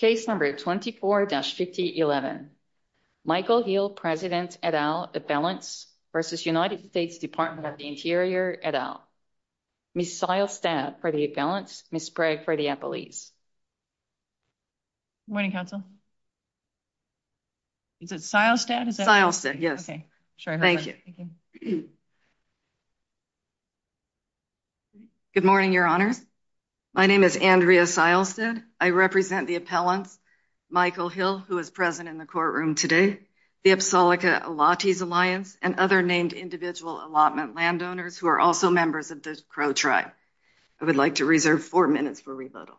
Case No. 24-5011 Michael Hill v. United States Department of the Interior et al. Ms. Seilstedt for the appellants, Ms. Bragg for the appellees. Good morning, counsel. Is it Seilstedt? Seilstedt, yes. Okay. Thank you. Thank you. Good morning, your honors. My name is Andrea Seilstedt. I represent the appellants, Michael Hill, who is present in the courtroom today, the Apsallica Allottees Alliance, and other named individual allotment landowners who are also members of the Crow Tribe. I would like to reserve four minutes for rebuttal.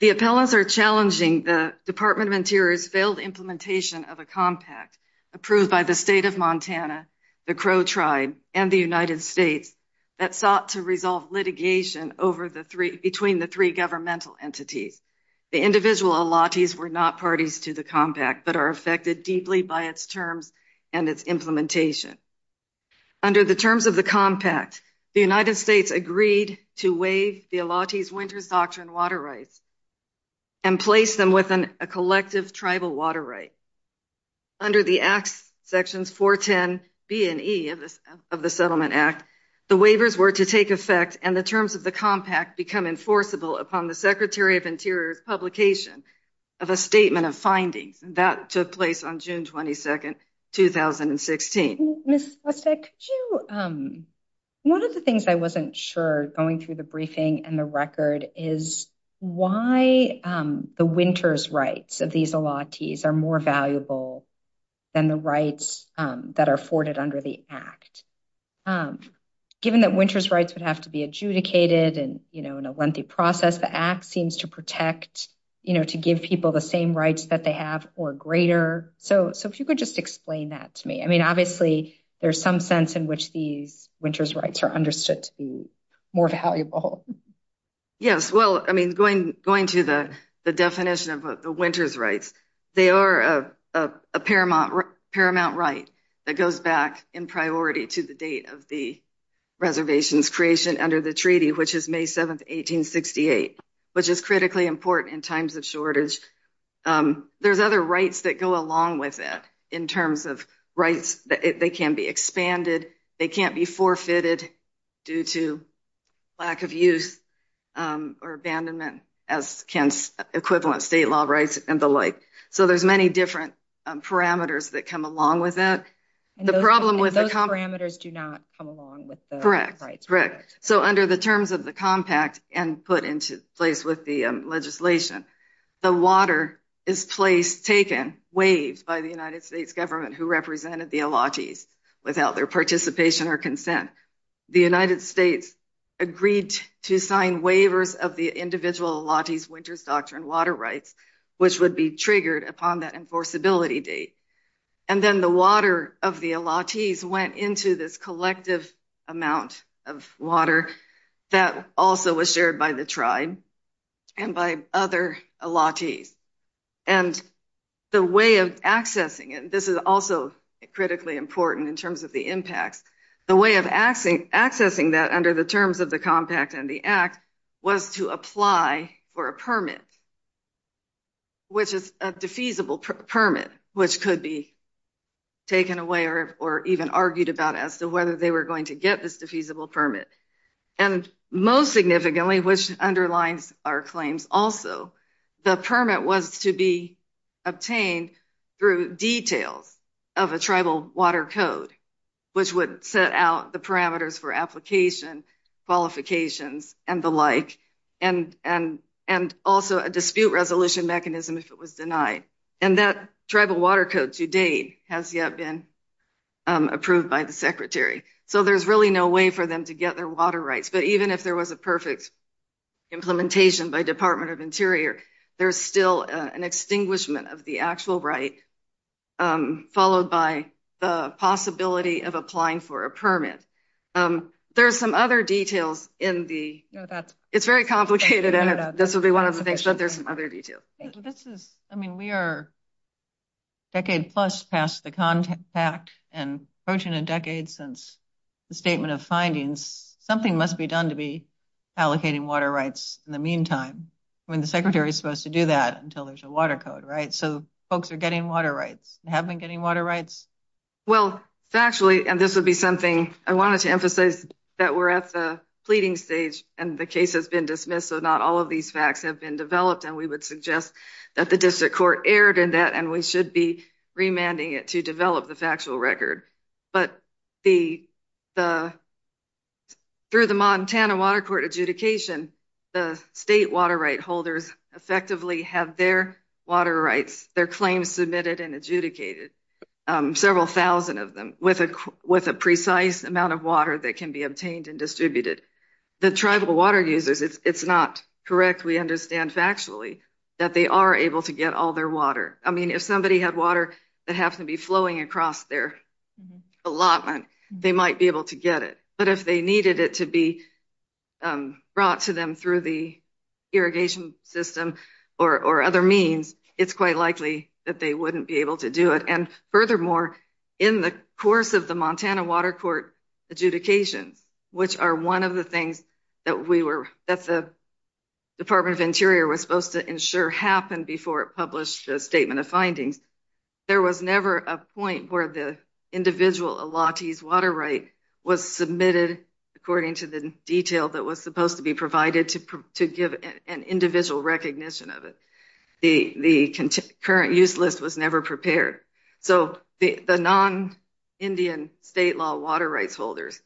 The appellants are challenging the Department of Interior's failed implementation of a compact approved by the State of Montana, the Crow Tribe, and the United States that sought to resolve litigation between the three governmental entities. The individual allottees were not parties to the compact but are affected deeply by its terms and its implementation. Under the terms of the compact, the United States agreed to waive the allottees' winter's doctrine water rights and place them within a collective tribal water right. Under the Acts, Sections 410B and E of the Settlement Act, the waivers were to take effect and the terms of the compact become enforceable upon the Secretary of Interior's publication of a statement of findings. That took place on June 22, 2016. Ms. Seilstedt, one of the things I wasn't sure, going through the briefing and the record, is why the winter's rights of these allottees are more valuable than the rights that are afforded under the Act. Given that winter's rights would have to be adjudicated and, you know, in a lengthy process, the Act seems to protect, you know, to give people the same rights that they have or greater. So if you could just explain that to me. I mean, obviously there's some sense in which these winter's rights are understood to be more valuable. Yes, well, I mean, going to the definition of the winter's rights, they are a paramount right that goes back in priority to the date of the reservation's creation under the treaty, which is May 7, 1868, which is critically important in times of shortage. There's other rights that go along with it in terms of rights. They can be expanded. They can't be forfeited due to lack of use or abandonment as can equivalent state law rights and the like. So there's many different parameters that come along with that. And those parameters do not come along with the rights. Correct, correct. So under the terms of the compact and put into place with the legislation, the water is placed, taken, waived by the United States government, who represented the Olatis without their participation or consent. The United States agreed to sign waivers of the individual Olatis winter's doctrine water rights, which would be triggered upon that enforceability date. And then the water of the Olatis went into this collective amount of water that also was shared by the tribe and by other Olatis. And the way of accessing it, this is also critically important in terms of the impacts, the way of accessing that under the terms of the compact and the act was to apply for a permit, which is a defeasible permit, which could be taken away or even argued about as to whether they were going to get this defeasible permit. And most significantly, which underlines our claims also, the permit was to be obtained through details of a tribal water code, which would set out the parameters for application, qualifications, and the like, and also a dispute resolution mechanism if it was denied. And that tribal water code to date has yet been approved by the Secretary. So there's really no way for them to get their water rights. But even if there was a perfect implementation by Department of Interior, there's still an extinguishment of the actual right, followed by the possibility of applying for a permit. There are some other details in the ‑‑ it's very complicated, and this will be one of the things, but there's some other details. I mean, we are a decade plus past the compact and approaching a decade since the statement of findings. Something must be done to be allocating water rights in the meantime. I mean, the Secretary is supposed to do that until there's a water code, right? So folks are getting water rights, have been getting water rights? Well, actually, and this would be something I wanted to emphasize, that we're at the pleading stage, and the case has been dismissed, so not all of these facts have been developed, and we would suggest that the district court erred in that, and we should be remanding it to develop the factual record. But through the Montana Water Court adjudication, the state water right holders effectively have their water rights, their claims submitted and adjudicated, several thousand of them, with a precise amount of water that can be obtained and distributed. The tribal water users, it's not correct, we understand factually, that they are able to get all their water. I mean, if somebody had water that happened to be flowing across their allotment, they might be able to get it. But if they needed it to be brought to them through the irrigation system or other means, it's quite likely that they wouldn't be able to do it. And furthermore, in the course of the Montana Water Court adjudications, which are one of the things that the Department of Interior was supposed to ensure happened before it published a statement of findings, there was never a point where the individual allottee's water right was submitted according to the detail that was supposed to be provided to give an individual recognition of it. The current use list was never prepared. So the non-Indian state law water rights holders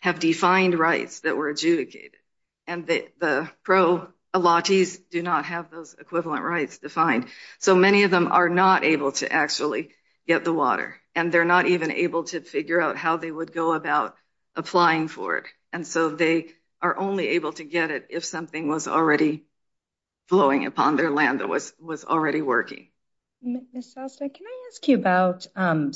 have defined rights that were adjudicated, and the pro allottees do not have those equivalent rights defined. So many of them are not able to actually get the water, and they're not even able to figure out how they would go about applying for it. And so they are only able to get it if something was already flowing upon their land that was already working. Ms. Salstead, can I ask you about,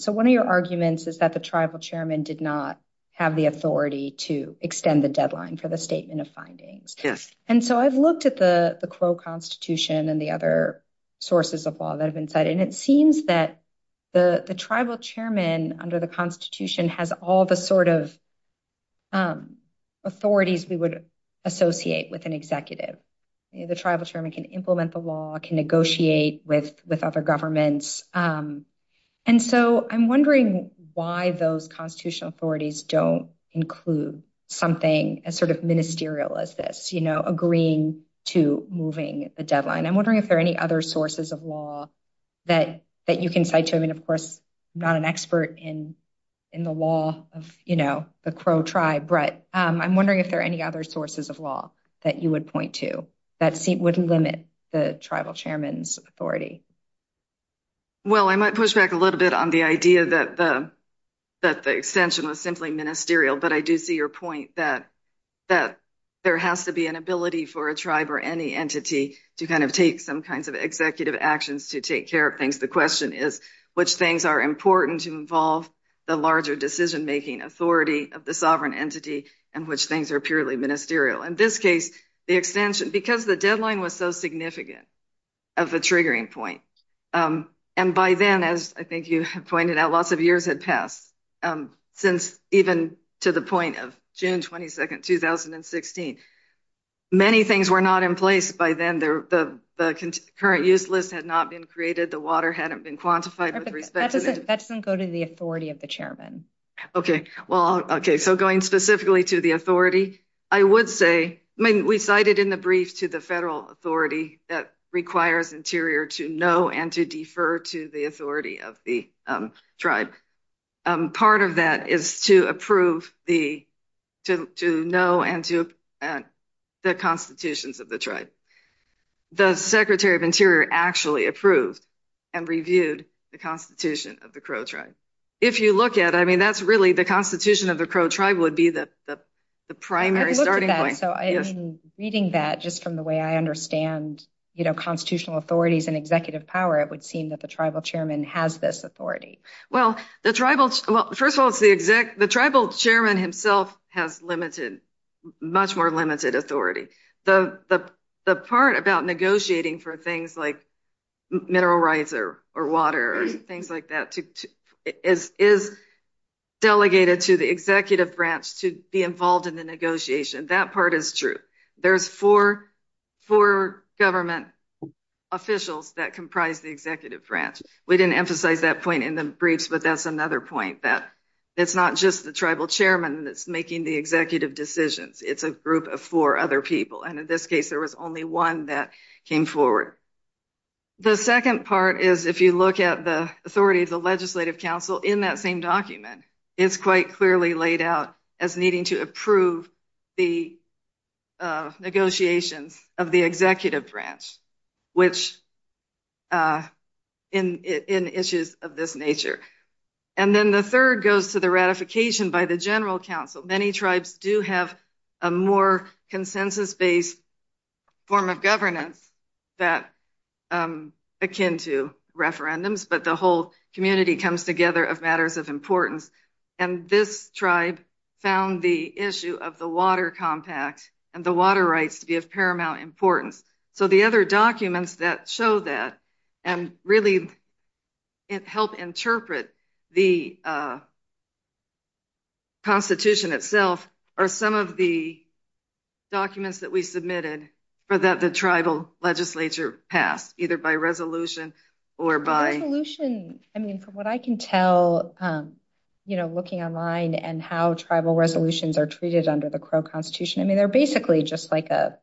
so one of your arguments is that the tribal chairman did not have the authority to extend the deadline for the statement of findings. Yes. And so I've looked at the Crow Constitution and the other sources of law that have been cited, and it seems that the tribal chairman under the Constitution has all the sort of authorities we would associate with an executive. The tribal chairman can implement the law, can negotiate with other governments. And so I'm wondering why those constitutional authorities don't include something as sort of ministerial as this, you know, agreeing to moving the deadline. I'm wondering if there are any other sources of law that you can cite. I mean, of course, I'm not an expert in the law of, you know, the Crow tribe, but I'm wondering if there are any other sources of law that you would point to that would limit the tribal chairman's authority. Well, I might push back a little bit on the idea that the extension was simply ministerial, but I do see your point that there has to be an ability for a tribe or any entity to kind of take some kinds of executive actions to take care of things. The question is which things are important to involve the larger decision-making authority of the sovereign entity and which things are purely ministerial. In this case, the extension, because the deadline was so significant of a triggering point, and by then, as I think you have pointed out, lots of years had passed since even to the point of June 22nd, 2016. Many things were not in place by then. The current use list had not been created. The water hadn't been quantified with respect to it. That doesn't go to the authority of the chairman. Okay, well, okay. So going specifically to the authority, I would say, I mean, we cited in the brief to the federal authority that requires Interior to know and to defer to the authority of the tribe. Part of that is to approve the, to know and to, the constitutions of the tribe. The Secretary of Interior actually approved and reviewed the constitution of the Crow tribe. If you look at, I mean, that's really, the constitution of the Crow tribe would be the primary starting point. So, I mean, reading that just from the way I understand, you know, constitutional authorities and executive power, it would seem that the tribal chairman has this authority. Well, the tribal, well, first of all, it's the, the tribal chairman himself has limited, much more limited authority. The part about negotiating for things like mineral rights or water or things like that is delegated to the executive branch to be involved in the negotiation. That part is true. There's four, four government officials that comprise the executive branch. We didn't emphasize that point in the briefs, but that's another point that it's not just the tribal chairman that's making the executive decisions. It's a group of four other people. And in this case, there was only one that came forward. The second part is if you look at the authority of the legislative council in that same document, it's quite clearly laid out as needing to approve the negotiations of the executive branch, which in issues of this nature. And then the third goes to the ratification by the general council. Many tribes do have a more consensus-based form of governance that akin to referendums, but the whole community comes together of matters of importance. And this tribe found the issue of the water compact and the water rights to be of paramount importance. So the other documents that show that and really help interpret the Constitution itself are some of the documents that we submitted, but that the tribal legislature passed either by resolution or by... Resolution, I mean, from what I can tell, you know, looking online and how tribal resolutions are treated under the Crow Constitution, I mean, they're basically just like a,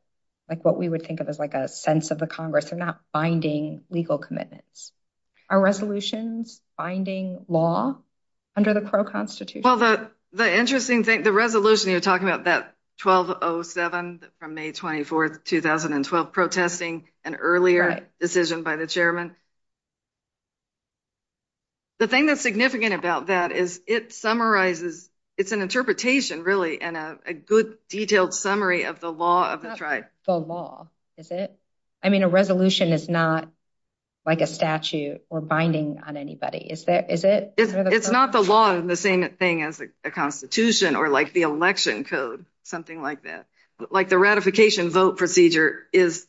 like what we would think of as like a sense of the Congress. They're not binding legal commitments. Are resolutions binding law under the Crow Constitution? Well, the interesting thing, the resolution you're talking about, that 1207 from May 24th, 2012, protesting an earlier decision by the chairman. The thing that's significant about that is it summarizes, it's an interpretation, really, and a good detailed summary of the law of the tribe. The law, is it? I mean, a resolution is not like a statute or binding on anybody, is it? It's not the law and the same thing as the Constitution or like the election code, something like that. Like the ratification vote procedure is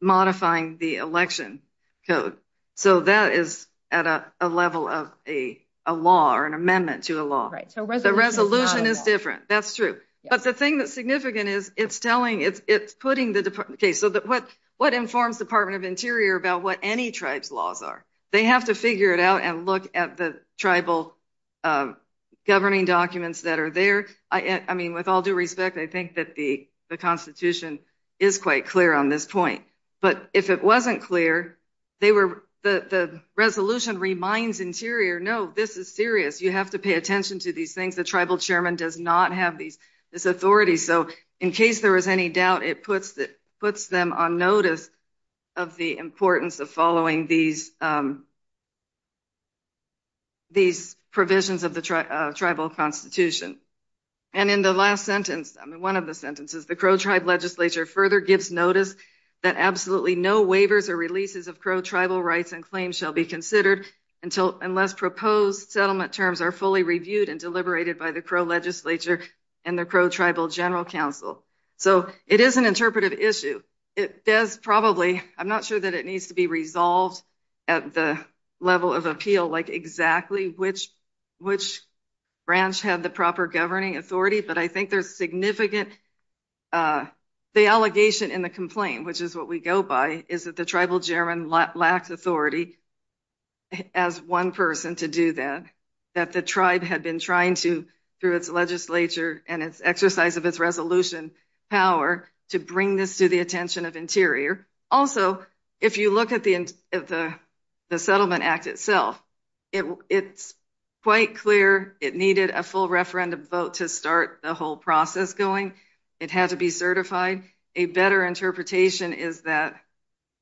modifying the election code. So that is at a level of a law or an amendment to a law. The resolution is different. That's true. But the thing that's significant is it's telling, it's putting the... Okay, so what informs Department of Interior about what any tribe's laws are? They have to figure it out and look at the tribal governing documents that are there. I mean, with all due respect, I think that the Constitution is quite clear on this point. But if it wasn't clear, the resolution reminds Interior, no, this is serious. You have to pay attention to these things. The tribal chairman does not have this authority. So in case there is any doubt, it puts them on notice of the importance of following these provisions of the tribal constitution. And in the last sentence, I mean, one of the sentences, the Crow tribe legislature further gives notice that absolutely no waivers or releases of Crow tribal rights and claims shall be considered unless proposed settlement terms are fully reviewed and deliberated by the Crow legislature and the Crow Tribal General Council. So it is an interpretive issue. It does probably, I'm not sure that it needs to be resolved at the level of appeal, like exactly which branch had the proper governing authority. But I think there's significant... The allegation in the complaint, which is what we go by, is that the tribal chairman lacked authority as one person to do that, that the tribe had been trying to, through its legislature and its exercise of its resolution power, to bring this to the attention of Interior. Also, if you look at the Settlement Act itself, it's quite clear it needed a full referendum vote to start the whole process going. It had to be certified. A better interpretation is that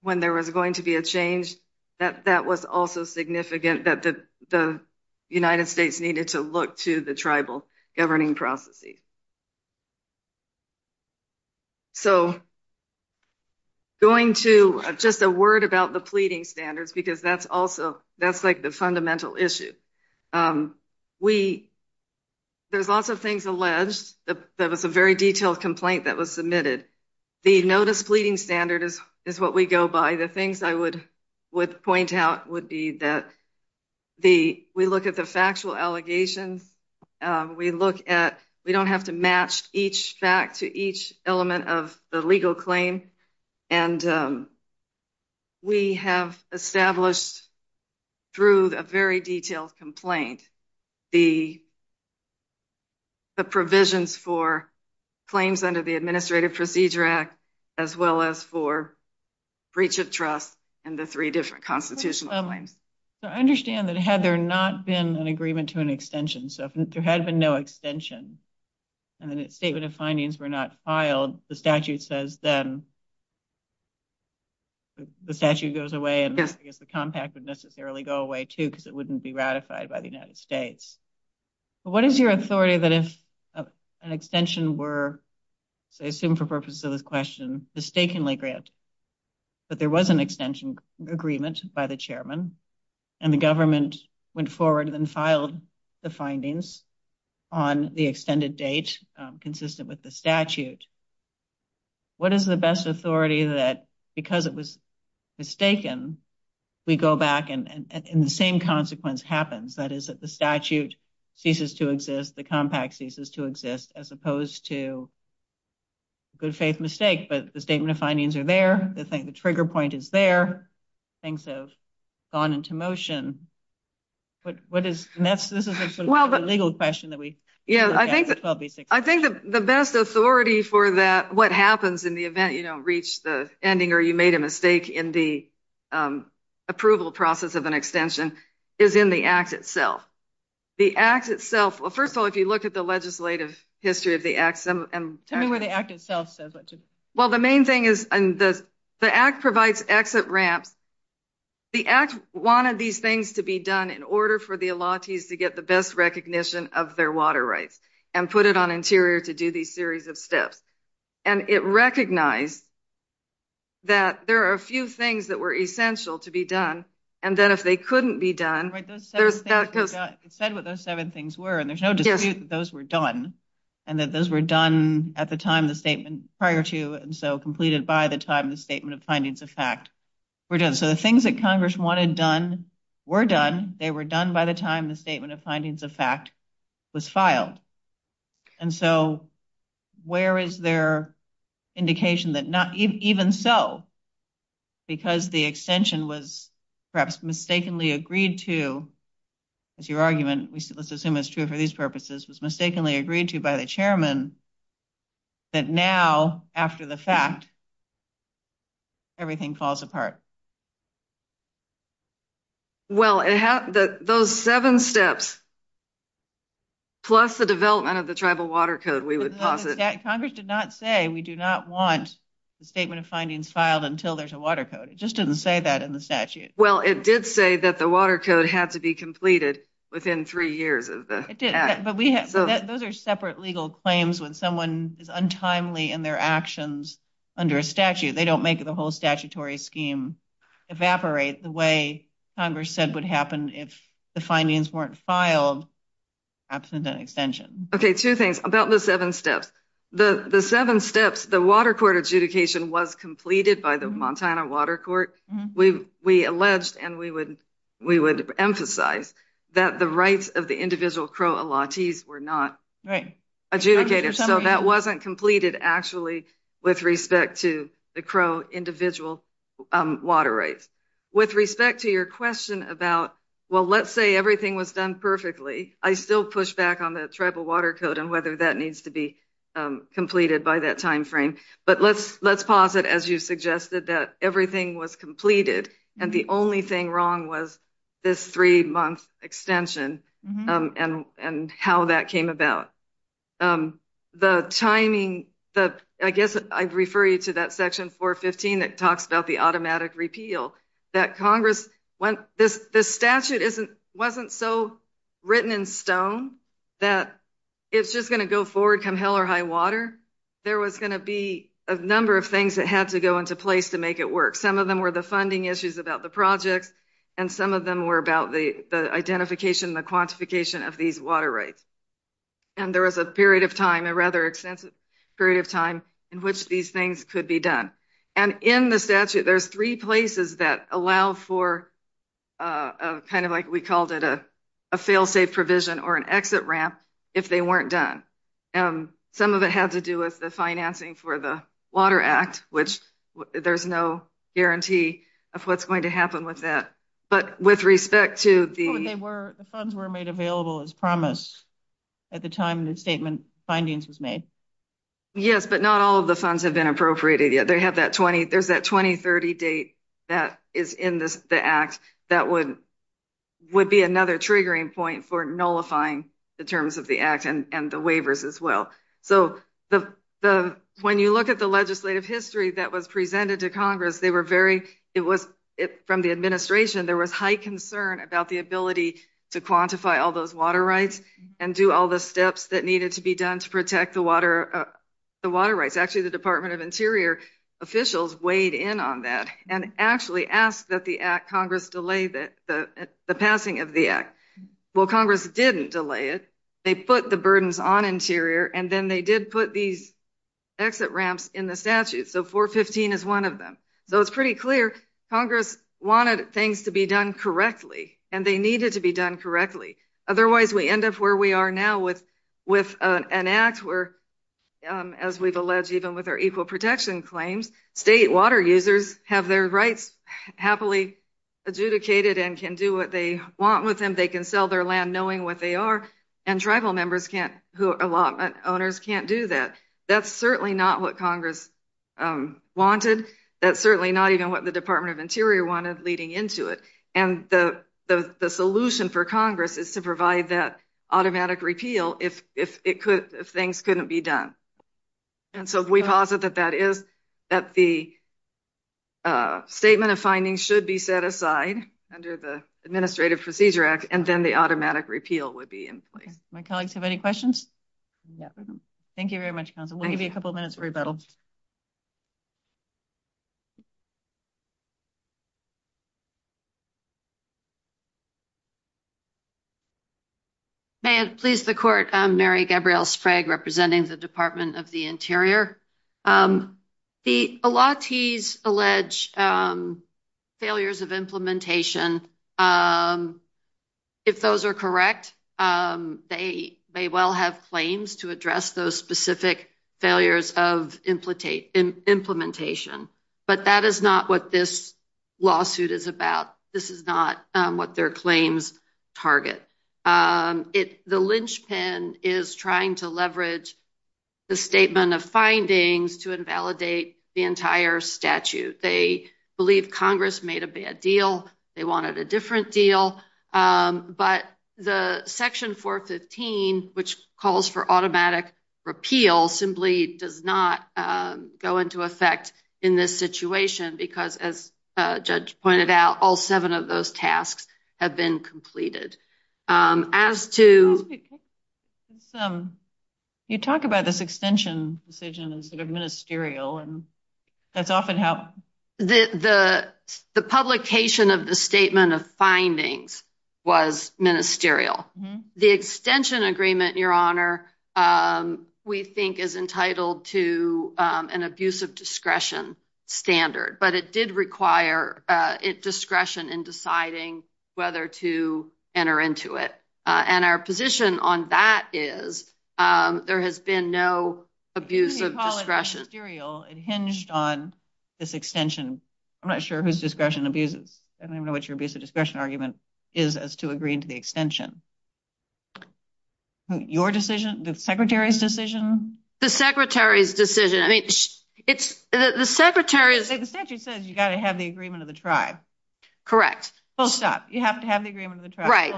when there was going to be a change, that that was also significant, that the United States needed to look to the tribal governing processes. So going to just a word about the pleading standards, because that's also, that's like the fundamental issue. We, there's lots of things alleged. There was a very detailed complaint that was submitted. The notice pleading standard is what we go by. The things I would point out would be that we look at the factual allegations. We look at, we don't have to match each fact to each element of the legal claim. And we have established, through a very detailed complaint, the provisions for claims under the Administrative Procedure Act, as well as for breach of trust and the three different constitutional claims. So I understand that had there not been an agreement to an extension, so if there had been no extension, and then a statement of findings were not filed, the statute says then the statute goes away, and I guess the compact would necessarily go away, too, because it wouldn't be ratified by the United States. But what is your authority that if an extension were, say, assumed for purposes of this question, mistakenly granted, but there was an extension agreement by the chairman, and the government went forward and then filed the findings on the extended date consistent with the statute, what is the best authority that, because it was mistaken, we go back and the same consequence happens, that is that the statute ceases to exist, the compact ceases to exist, as opposed to good faith mistake, but the statement of findings are there, the trigger point is there, things have gone into motion. This is a sort of legal question. I think the best authority for that, what happens in the event you don't reach the ending, or you made a mistake in the approval process of an extension, is in the Act itself. The Act itself, first of all, if you look at the legislative history of the Act, Tell me what the Act itself says. Well, the main thing is the Act provides exit ramps. The Act wanted these things to be done in order for the elates to get the best recognition of their water rights, and put it on interior to do these series of steps. And it recognized that there are a few things that were essential to be done, and that if they couldn't be done, It said what those seven things were, and there's no dispute that those were done, and that those were done at the time the statement prior to, and so completed by the time the statement of findings of fact were done. So the things that Congress wanted done were done. They were done by the time the statement of findings of fact was filed. And so where is there indication that not even so, because the extension was perhaps mistakenly agreed to, as your argument, let's assume it's true for these purposes, was mistakenly agreed to by the chairman, that now, after the fact, everything falls apart. Well, it had those seven steps, plus the development of the tribal water code, we would pass it. Congress did not say we do not want the statement of findings filed until there's a water code. It just didn't say that in the statute. Well, it did say that the water code had to be completed within three years of the act. It did, but those are separate legal claims when someone is untimely in their actions under a statute. They don't make the whole statutory scheme evaporate the way Congress said would happen if the findings weren't filed absent an extension. Okay, two things about the seven steps. The seven steps, the water court adjudication was completed by the Montana Water Court. We alleged and we would emphasize that the rights of the individual Crow allottees were not adjudicated. So that wasn't completed, actually, with respect to the Crow individual water rights. With respect to your question about, well, let's say everything was done perfectly, I still push back on the tribal water code and whether that needs to be completed by that time frame. But let's pause it, as you suggested, that everything was completed and the only thing wrong was this three-month extension and how that came about. The timing, I guess I'd refer you to that section 415 that talks about the automatic repeal, that Congress, this statute wasn't so written in stone that it's just going to go forward come hell or high water. There was going to be a number of things that had to go into place to make it work. Some of them were the funding issues about the projects, and some of them were about the identification and the quantification of these water rights. And there was a period of time, a rather extensive period of time in which these things could be done. And in the statute, there's three places that allow for kind of like we called it a fail-safe provision or an exit ramp if they weren't done. Some of it had to do with the financing for the Water Act, which there's no guarantee of what's going to happen with that. But with respect to the- The funds were made available as promised at the time the statement findings was made. Yes, but not all of the funds have been appropriated yet. There's that 2030 date that is in the Act that would be another triggering point for nullifying the terms of the Act and the waivers as well. So when you look at the legislative history that was presented to Congress, they were very- It was from the administration. There was high concern about the ability to quantify all those water rights and do all the steps that needed to be done to protect the water rights. Actually, the Department of Interior officials weighed in on that and actually asked that the Act- Congress delay the passing of the Act. Well, Congress didn't delay it. They put the burdens on Interior, and then they did put these exit ramps in the statute. So 415 is one of them. So it's pretty clear Congress wanted things to be done correctly, and they needed to be done correctly. Otherwise, we end up where we are now with an Act where, as we've alleged even with our equal protection claims, state water users have their rights happily adjudicated and can do what they want with them. They can sell their land knowing what they are. And tribal owners can't do that. That's certainly not what Congress wanted. That's certainly not even what the Department of Interior wanted leading into it. And the solution for Congress is to provide that automatic repeal if things couldn't be done. And so we posit that that is, that the statement of findings should be set aside under the Administrative Procedure Act, and then the automatic repeal would be in place. My colleagues have any questions? No. Thank you very much, Counsel. We'll give you a couple of minutes for rebuttal. May it please the Court, I'm Mary Gabrielle Sprague representing the Department of the Interior. The allottees allege failures of implementation. If those are correct, they may well have claims to address those specific failures of implementation. But that is not what this lawsuit is about. This is not what their claims target. The linchpin is trying to leverage the statement of findings to invalidate the entire statute. They believe Congress made a bad deal. They wanted a different deal. But the Section 415, which calls for automatic repeal, simply does not go into effect in this situation because, as Judge pointed out, all seven of those tasks have been completed. You talk about this extension decision as sort of ministerial, and that's often how… The publication of the statement of findings was ministerial. The extension agreement, Your Honor, we think is entitled to an abuse of discretion standard. But it did require discretion in deciding whether to enter into it. And our position on that is there has been no abuse of discretion. You call it ministerial. It hinged on this extension. I'm not sure whose discretion abuses. I don't even know what your abuse of discretion argument is as to agreeing to the extension. Your decision, the Secretary's decision? The Secretary's decision. I mean, the Secretary's… The statute says you've got to have the agreement of the tribe. Correct. Full stop. You have to have the agreement of the tribe. Right.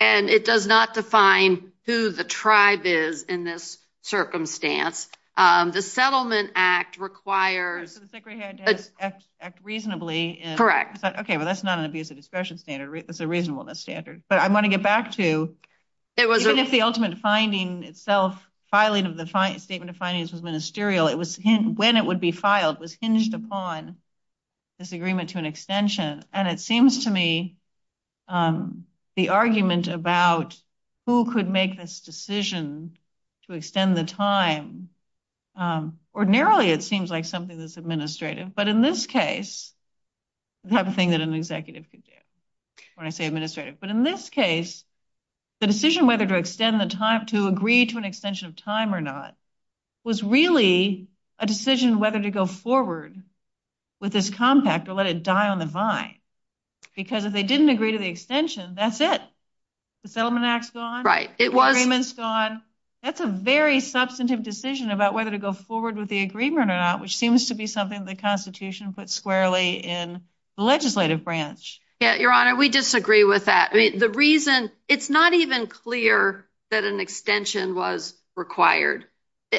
And it does not define who the tribe is in this circumstance. The Settlement Act requires… The Secretary had to act reasonably. Correct. Okay, well, that's not an abuse of discretion standard. That's a reasonableness standard. But I want to get back to, even if the ultimate finding itself, filing of the statement of findings was ministerial, when it would be filed was hinged upon this agreement to an extension. And it seems to me the argument about who could make this decision to extend the time, ordinarily it seems like something that's administrative. But in this case, the type of thing that an executive could do when I say administrative. But in this case, the decision whether to extend the time, to agree to an extension of time or not, was really a decision whether to go forward with this compact or let it die on the vine. Because if they didn't agree to the extension, that's it. The Settlement Act's gone. It was… The agreement's gone. That's a very substantive decision about whether to go forward with the agreement or not, which seems to be something the Constitution puts squarely in the legislative branch. Yeah, Your Honor, we disagree with that. I mean, the reason… It's not even clear that an extension was required.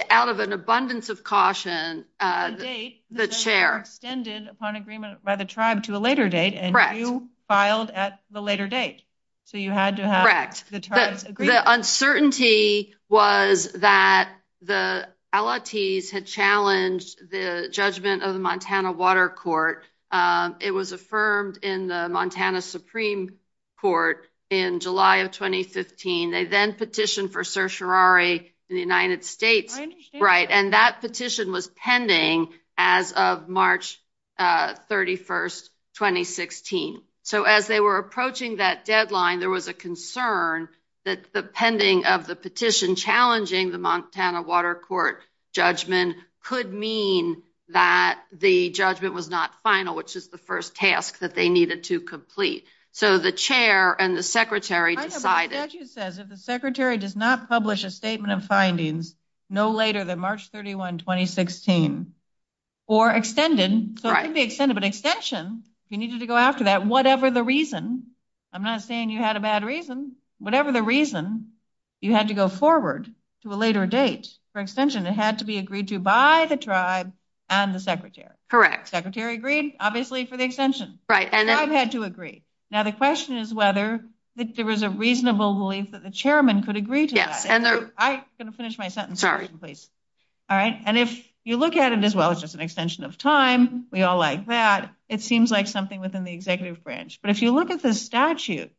Out of an abundance of caution… The date… The chair… Extended upon agreement by the tribe to a later date. Correct. And you filed at the later date. So you had to have… Correct. The tribe's agreement. The uncertainty was that the Allottees had challenged the judgment of the Montana Water Court. It was affirmed in the Montana Supreme Court in July of 2015. They then petitioned for certiorari in the United States. I understand that. Right. And that petition was pending as of March 31, 2016. So as they were approaching that deadline, there was a concern that the pending of the petition challenging the Montana Water Court judgment could mean that the judgment was not final, which is the first task that they needed to complete. So the chair and the secretary decided… I have a statute that says if the secretary does not publish a statement of findings no later than March 31, 2016 or extended… I'm not saying you had a bad reason. Whatever the reason, you had to go forward to a later date for extension. It had to be agreed to by the tribe and the secretary. Secretary agreed, obviously, for the extension. Right. The tribe had to agree. Now, the question is whether there was a reasonable belief that the chairman could agree to that. I'm going to finish my sentence. Sorry. Please. All right. And if you look at it as well, it's just an extension of time. We all like that. It seems like something within the executive branch. But if you look at the statute,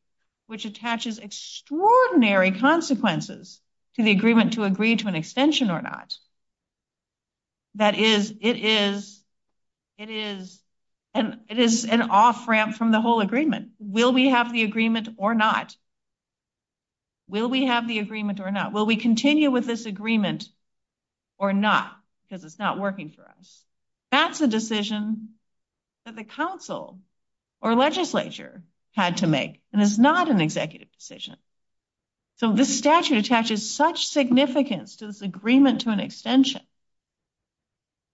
which attaches extraordinary consequences to the agreement to agree to an extension or not, that is, it is an off-ramp from the whole agreement. Will we have the agreement or not? Will we have the agreement or not? Will we continue with this agreement or not because it's not working for us? That's a decision that the council or legislature had to make, and it's not an executive decision. So this statute attaches such significance to this agreement to an extension.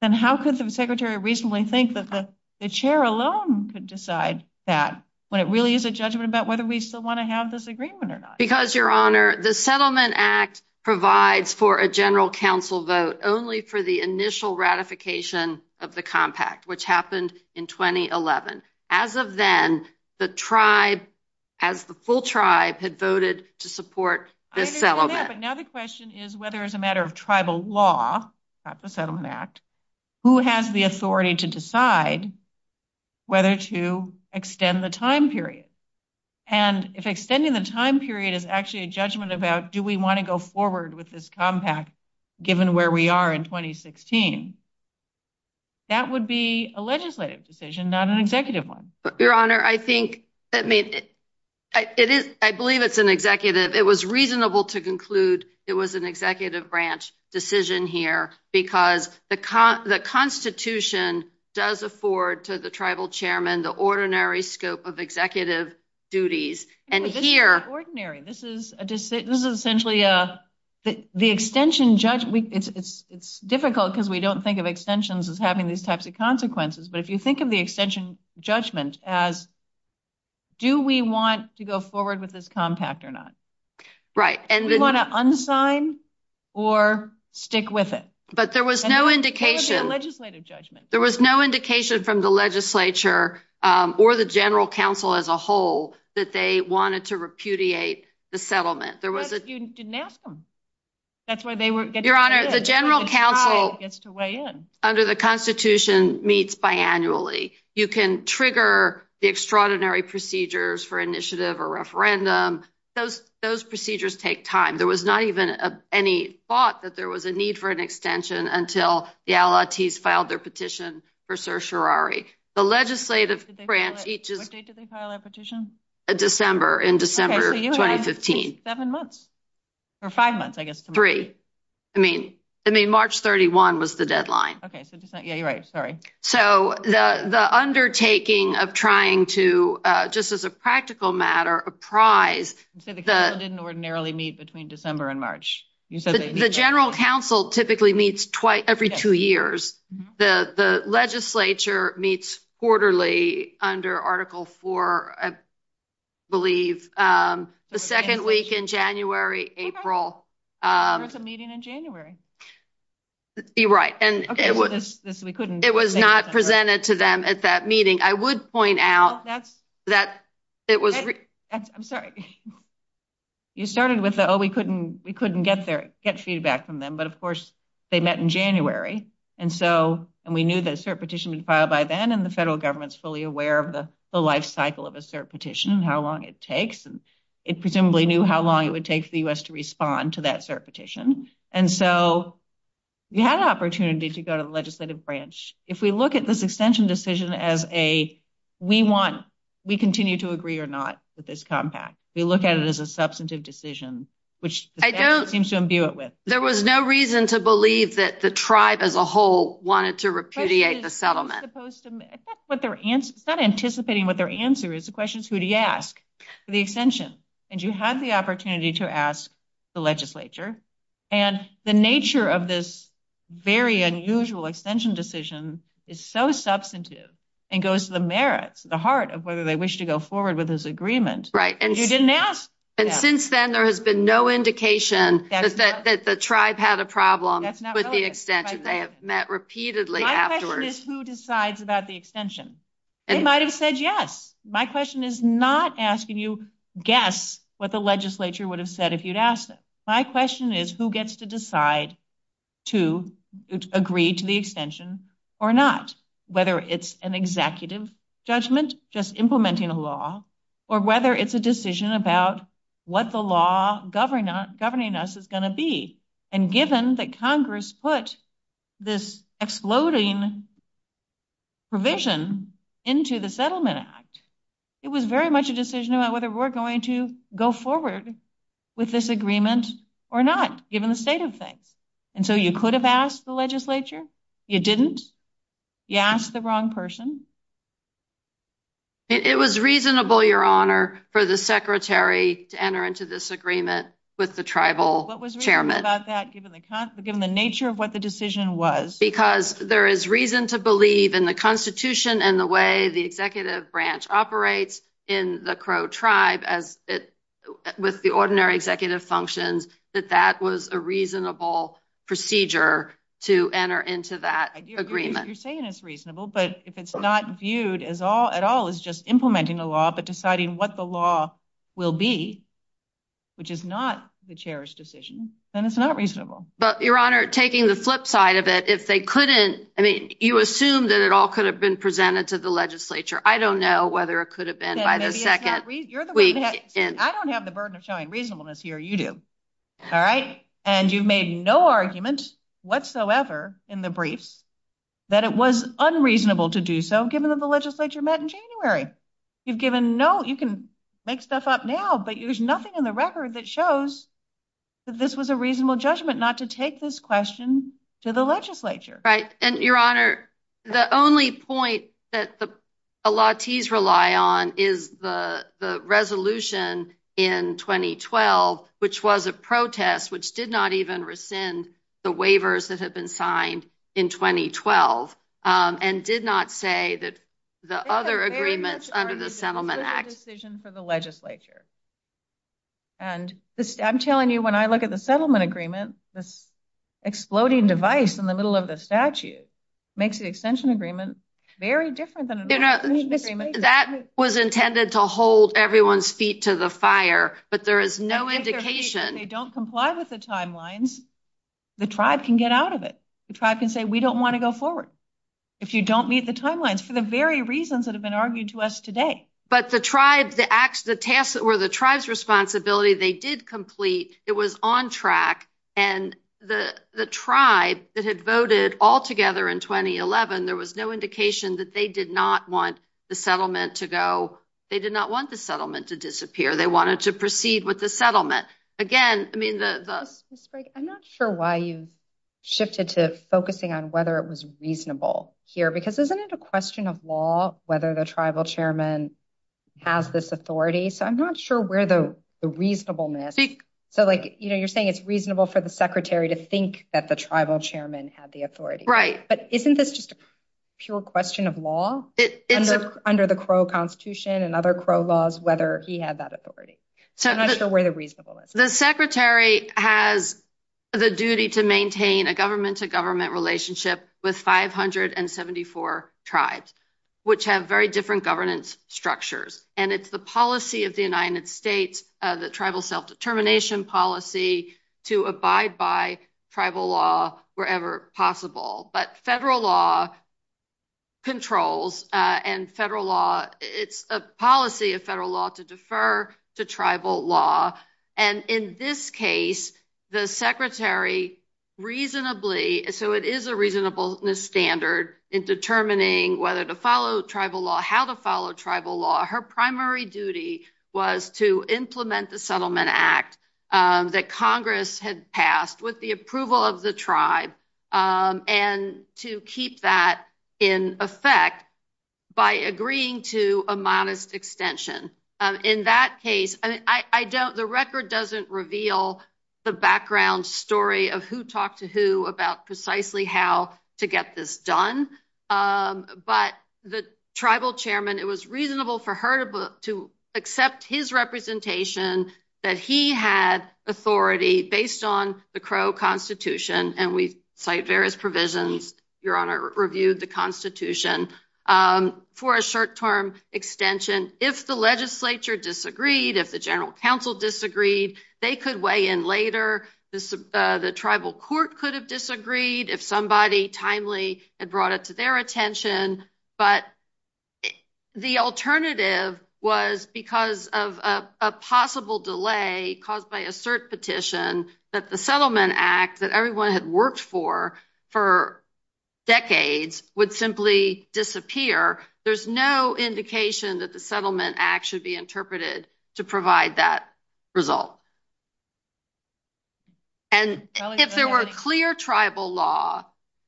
Then how could the secretary reasonably think that the chair alone could decide that when it really is a judgment about whether we still want to have this agreement or not? Because, Your Honor, the Settlement Act provides for a general council vote only for the initial ratification of the compact, which happened in 2011. As of then, the tribe, as the full tribe, had voted to support this settlement. I understand that, but now the question is whether as a matter of tribal law, not the Settlement Act, who has the authority to decide whether to extend the time period. And if extending the time period is actually a judgment about do we want to go forward with this compact, given where we are in 2016, that would be a legislative decision, not an executive one. Your Honor, I believe it's an executive. It was reasonable to conclude it was an executive branch decision here because the Constitution does afford to the tribal chairman the ordinary scope of executive duties. But this is ordinary. This is essentially the extension judgment. It's difficult because we don't think of extensions as having these types of consequences, but if you think of the extension judgment as do we want to go forward with this compact or not? Right. Do we want to unsign or stick with it? That would be a legislative judgment. There was no indication from the legislature or the general counsel as a whole that they wanted to repudiate the settlement. You didn't ask them. That's why they weren't getting to weigh in. Your Honor, the general counsel under the Constitution meets biannually. You can trigger the extraordinary procedures for initiative or referendum. Those procedures take time. There was not even any thought that there was a need for an extension until the allottees filed their petition for certiorari. What date did they file their petition? December, in December 2015. Seven months, or five months, I guess. Three. I mean, March 31 was the deadline. Yeah, you're right. Sorry. So the undertaking of trying to, just as a practical matter, apprise... You said the counsel didn't ordinarily meet between December and March. The general counsel typically meets every two years. The legislature meets quarterly under Article 4, I believe, the second week in January, April. There was a meeting in January. You're right. It was not presented to them at that meeting. I would point out that it was... I'm sorry. You started with, oh, we couldn't get feedback from them. But, of course, they met in January. And we knew that a cert petition had been filed by then, and the federal government is fully aware of the lifecycle of a cert petition and how long it takes. It presumably knew how long it would take for the U.S. to respond to that cert petition. And so you had an opportunity to go to the legislative branch. If we look at this extension decision as a we want, we continue to agree or not with this compact. We look at it as a substantive decision, which the statute seems to imbue it with. There was no reason to believe that the tribe as a whole wanted to repudiate the settlement. It's not anticipating what their answer is. The question is, who do you ask for the extension? And you had the opportunity to ask the legislature. And the nature of this very unusual extension decision is so substantive and goes to the merits, the heart of whether they wish to go forward with this agreement. Right. And you didn't ask. And since then, there has been no indication that the tribe had a problem with the extension. They have met repeatedly afterwards. My question is, who decides about the extension? It might have said, yes. My question is not asking you guess what the legislature would have said if you'd asked. My question is, who gets to decide to agree to the extension or not? Whether it's an executive judgment, just implementing a law, or whether it's a decision about what the law governing us is going to be. And given that Congress put this exploding provision into the Settlement Act, it was very much a decision about whether we're going to go forward with this agreement or not, given the state of things. And so you could have asked the legislature. You didn't. You asked the wrong person. It was reasonable, Your Honor, for the secretary to enter into this agreement with the tribal chairman. What was reasonable about that, given the nature of what the decision was? Because there is reason to believe in the Constitution and the way the executive branch operates in the Crow tribe, as with the ordinary executive functions, that that was a reasonable procedure to enter into that agreement. You're saying it's reasonable, but if it's not viewed at all as just implementing a law, but deciding what the law will be, which is not the chair's decision, then it's not reasonable. But, Your Honor, taking the flip side of it, if they couldn't, I mean, you assume that it all could have been presented to the legislature. I don't know whether it could have been by the second week in. I don't have the burden of showing reasonableness here. You do. All right. And you've made no argument whatsoever in the briefs that it was unreasonable to do so, given that the legislature met in January. You've given no, you can make stuff up now, but there's nothing in the record that shows that this was a reasonable judgment not to take this question to the legislature. Right. And, Your Honor, the only point that the Elites rely on is the resolution in 2012, which was a protest, which did not even rescind the waivers that have been signed in 2012 and did not say that the other agreements under the Settlement Act decision for the legislature. And I'm telling you, when I look at the settlement agreement, this exploding device in the middle of the statute makes the extension agreement very different than an extension agreement. That was intended to hold everyone's feet to the fire, but there is no indication. If they don't comply with the timelines, the tribe can get out of it. The tribe can say, we don't want to go forward. If you don't meet the timelines, for the very reasons that have been argued to us today. But the tribe, the acts, the tasks that were the tribe's responsibility, they did complete. It was on track. And the tribe that had voted altogether in 2011, there was no indication that they did not want the settlement to go. They did not want the settlement to disappear. They wanted to proceed with the settlement again. I'm not sure why you've shifted to focusing on whether it was reasonable here, because isn't it a question of law, whether the tribal chairman has this authority? So I'm not sure where the reasonableness. So, like, you know, you're saying it's reasonable for the secretary to think that the tribal chairman had the authority, right? But isn't this just a pure question of law under the Crow Constitution and other Crow laws, whether he had that authority? I'm not sure where the reasonableness is. The secretary has the duty to maintain a government to government relationship with 574 tribes, which have very different governance structures. And it's the policy of the United States, the tribal self-determination policy to abide by tribal law wherever possible. But federal law controls and federal law, it's a policy of federal law to defer to tribal law. And in this case, the secretary reasonably so it is a reasonableness standard in determining whether to follow tribal law, how to follow tribal law. Her primary duty was to implement the settlement act that Congress had passed with the approval of the tribe and to keep that in effect by agreeing to a modest extension. In that case, I don't the record doesn't reveal the background story of who talked to who about precisely how to get this done. But the tribal chairman, it was reasonable for her to accept his representation that he had authority based on the Crow Constitution. And we cite various provisions. Your Honor reviewed the Constitution for a short term extension. If the legislature disagreed, if the general counsel disagreed, they could weigh in later. The tribal court could have disagreed if somebody timely had brought it to their attention. But the alternative was because of a possible delay caused by a cert petition that the settlement act that everyone had worked for for decades would simply disappear. There's no indication that the settlement act should be interpreted to provide that result. And if there were a clear tribal law,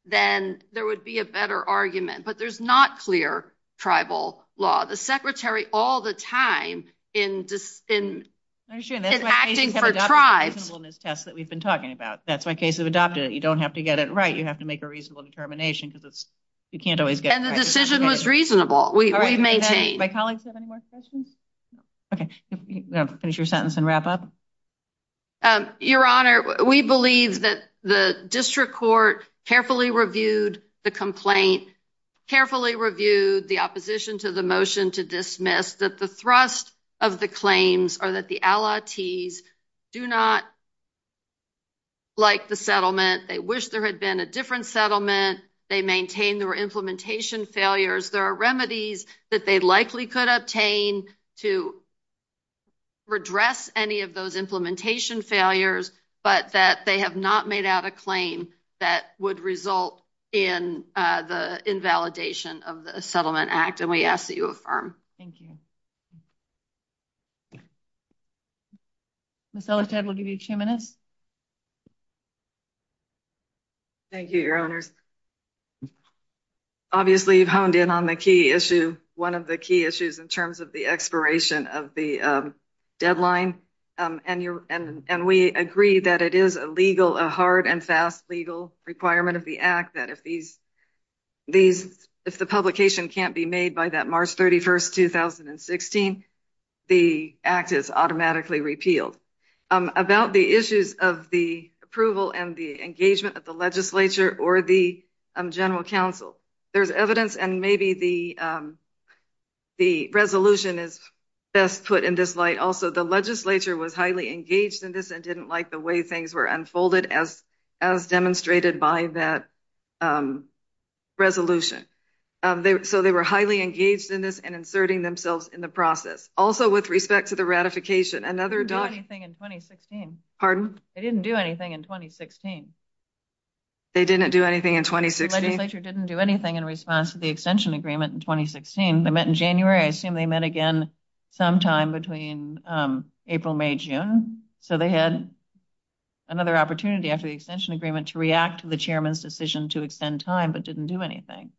then there would be a better argument. But there's not clear tribal law. The secretary all the time in acting for tribes. That's why cases have adopted it. You don't have to get it right. You have to make a reasonable determination because you can't always get it right. And the decision was reasonable. We maintained. Do my colleagues have any more questions? Finish your sentence and wrap up. Your Honor, we believe that the district court carefully reviewed the complaint, carefully reviewed the opposition to the motion to dismiss that the thrust of the claims are that the allies do not. Like the settlement, they wish there had been a different settlement. They maintain their implementation failures. There are remedies that they likely could obtain to redress any of those implementation failures, but that they have not made out a claim that would result in the invalidation of the settlement act. And we ask that you affirm. Thank you. So, instead, we'll give you two minutes. Thank you, your honors. Obviously, you've honed in on the key issue. One of the key issues in terms of the expiration of the deadline, and we agree that it is a legal, a hard and fast legal requirement of the act that if the publication can't be made by that March 31st, 2016, the act is automatically repealed. About the issues of the approval and the engagement of the legislature or the general counsel, there's evidence and maybe the resolution is best put in this light. Also, the legislature was highly engaged in this and didn't like the way things were unfolded as demonstrated by that resolution. So, they were highly engaged in this and inserting themselves in the process. Also, with respect to the ratification. They didn't do anything in 2016. Pardon? They didn't do anything in 2016. They didn't do anything in 2016? The legislature didn't do anything in response to the extension agreement in 2016. They met in January. I assume they met again sometime between April, May, June. So, they had another opportunity after the extension agreement to react to the chairman's decision to extend time, but didn't do anything.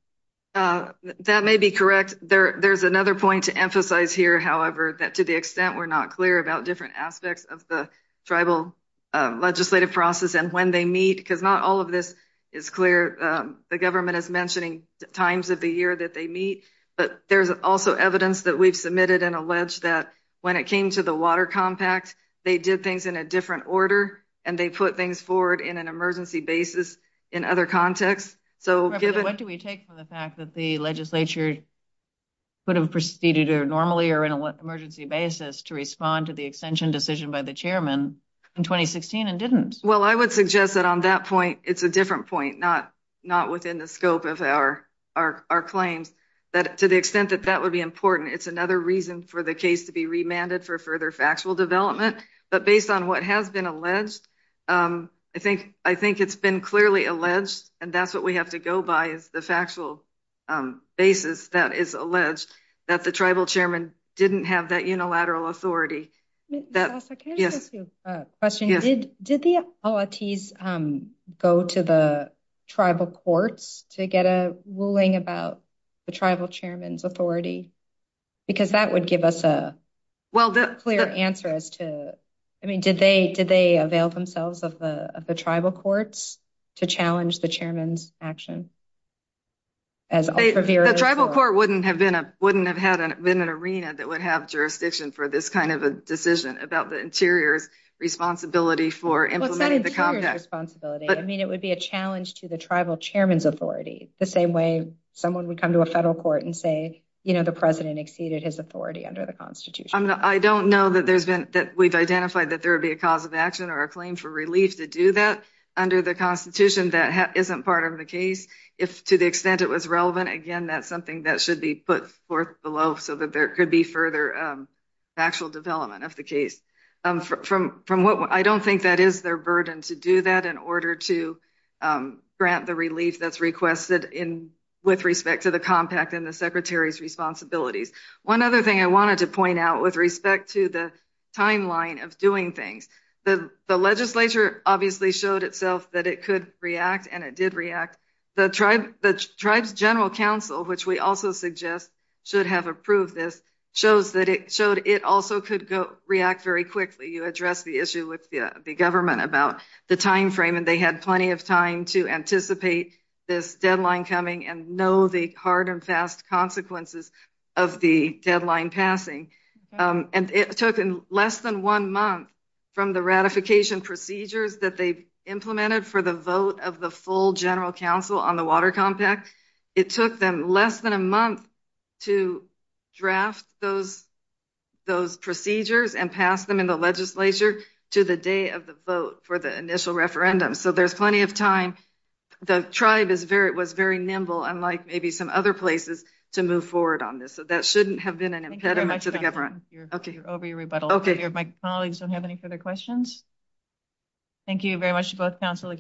That may be correct. There's another point to emphasize here, however, that to the extent we're not clear about different aspects of the tribal legislative process and when they meet. Because not all of this is clear. The government is mentioning times of the year that they meet, but there's also evidence that we've submitted and alleged that when it came to the water compact, they did things in a different order and they put things forward in an emergency basis in other contexts. What do we take from the fact that the legislature would have proceeded to normally or in an emergency basis to respond to the extension decision by the chairman in 2016 and didn't? Well, I would suggest that on that point, it's a different point. Not within the scope of our claims. To the extent that that would be important, it's another reason for the case to be remanded for further factual development. But based on what has been alleged, I think it's been clearly alleged. And that's what we have to go by is the factual basis that is alleged that the tribal chairman didn't have that unilateral authority. Can I just ask you a question? Did the authorities go to the tribal courts to get a ruling about the tribal chairman's authority? Because that would give us a clear answer as to, I mean, did they avail themselves of the tribal courts to challenge the chairman's action? The tribal court wouldn't have been an arena that would have jurisdiction for this kind of a decision about the interior's responsibility for implementing the compact. I mean, it would be a challenge to the tribal chairman's authority. The same way someone would come to a federal court and say, you know, the president exceeded his authority under the Constitution. I don't know that we've identified that there would be a cause of action or a claim for relief to do that under the Constitution. That isn't part of the case. If to the extent it was relevant, again, that's something that should be put forth below so that there could be further factual development of the case. I don't think that is their burden to do that in order to grant the relief that's requested with respect to the compact and the secretary's responsibilities. One other thing I wanted to point out with respect to the timeline of doing things. The legislature obviously showed itself that it could react, and it did react. The tribe's general counsel, which we also suggest should have approved this, showed it also could react very quickly. You addressed the issue with the government about the timeframe, and they had plenty of time to anticipate this deadline coming and know the hard and fast consequences of the deadline passing. It took less than one month from the ratification procedures that they implemented for the vote of the full general counsel on the water compact. It took them less than a month to draft those procedures and pass them in the legislature to the day of the vote for the initial referendum. So there's plenty of time. The tribe was very nimble, unlike maybe some other places, to move forward on this. So that shouldn't have been an impediment to the government. Over your rebuttal. My colleagues don't have any further questions. Thank you very much to both counsel.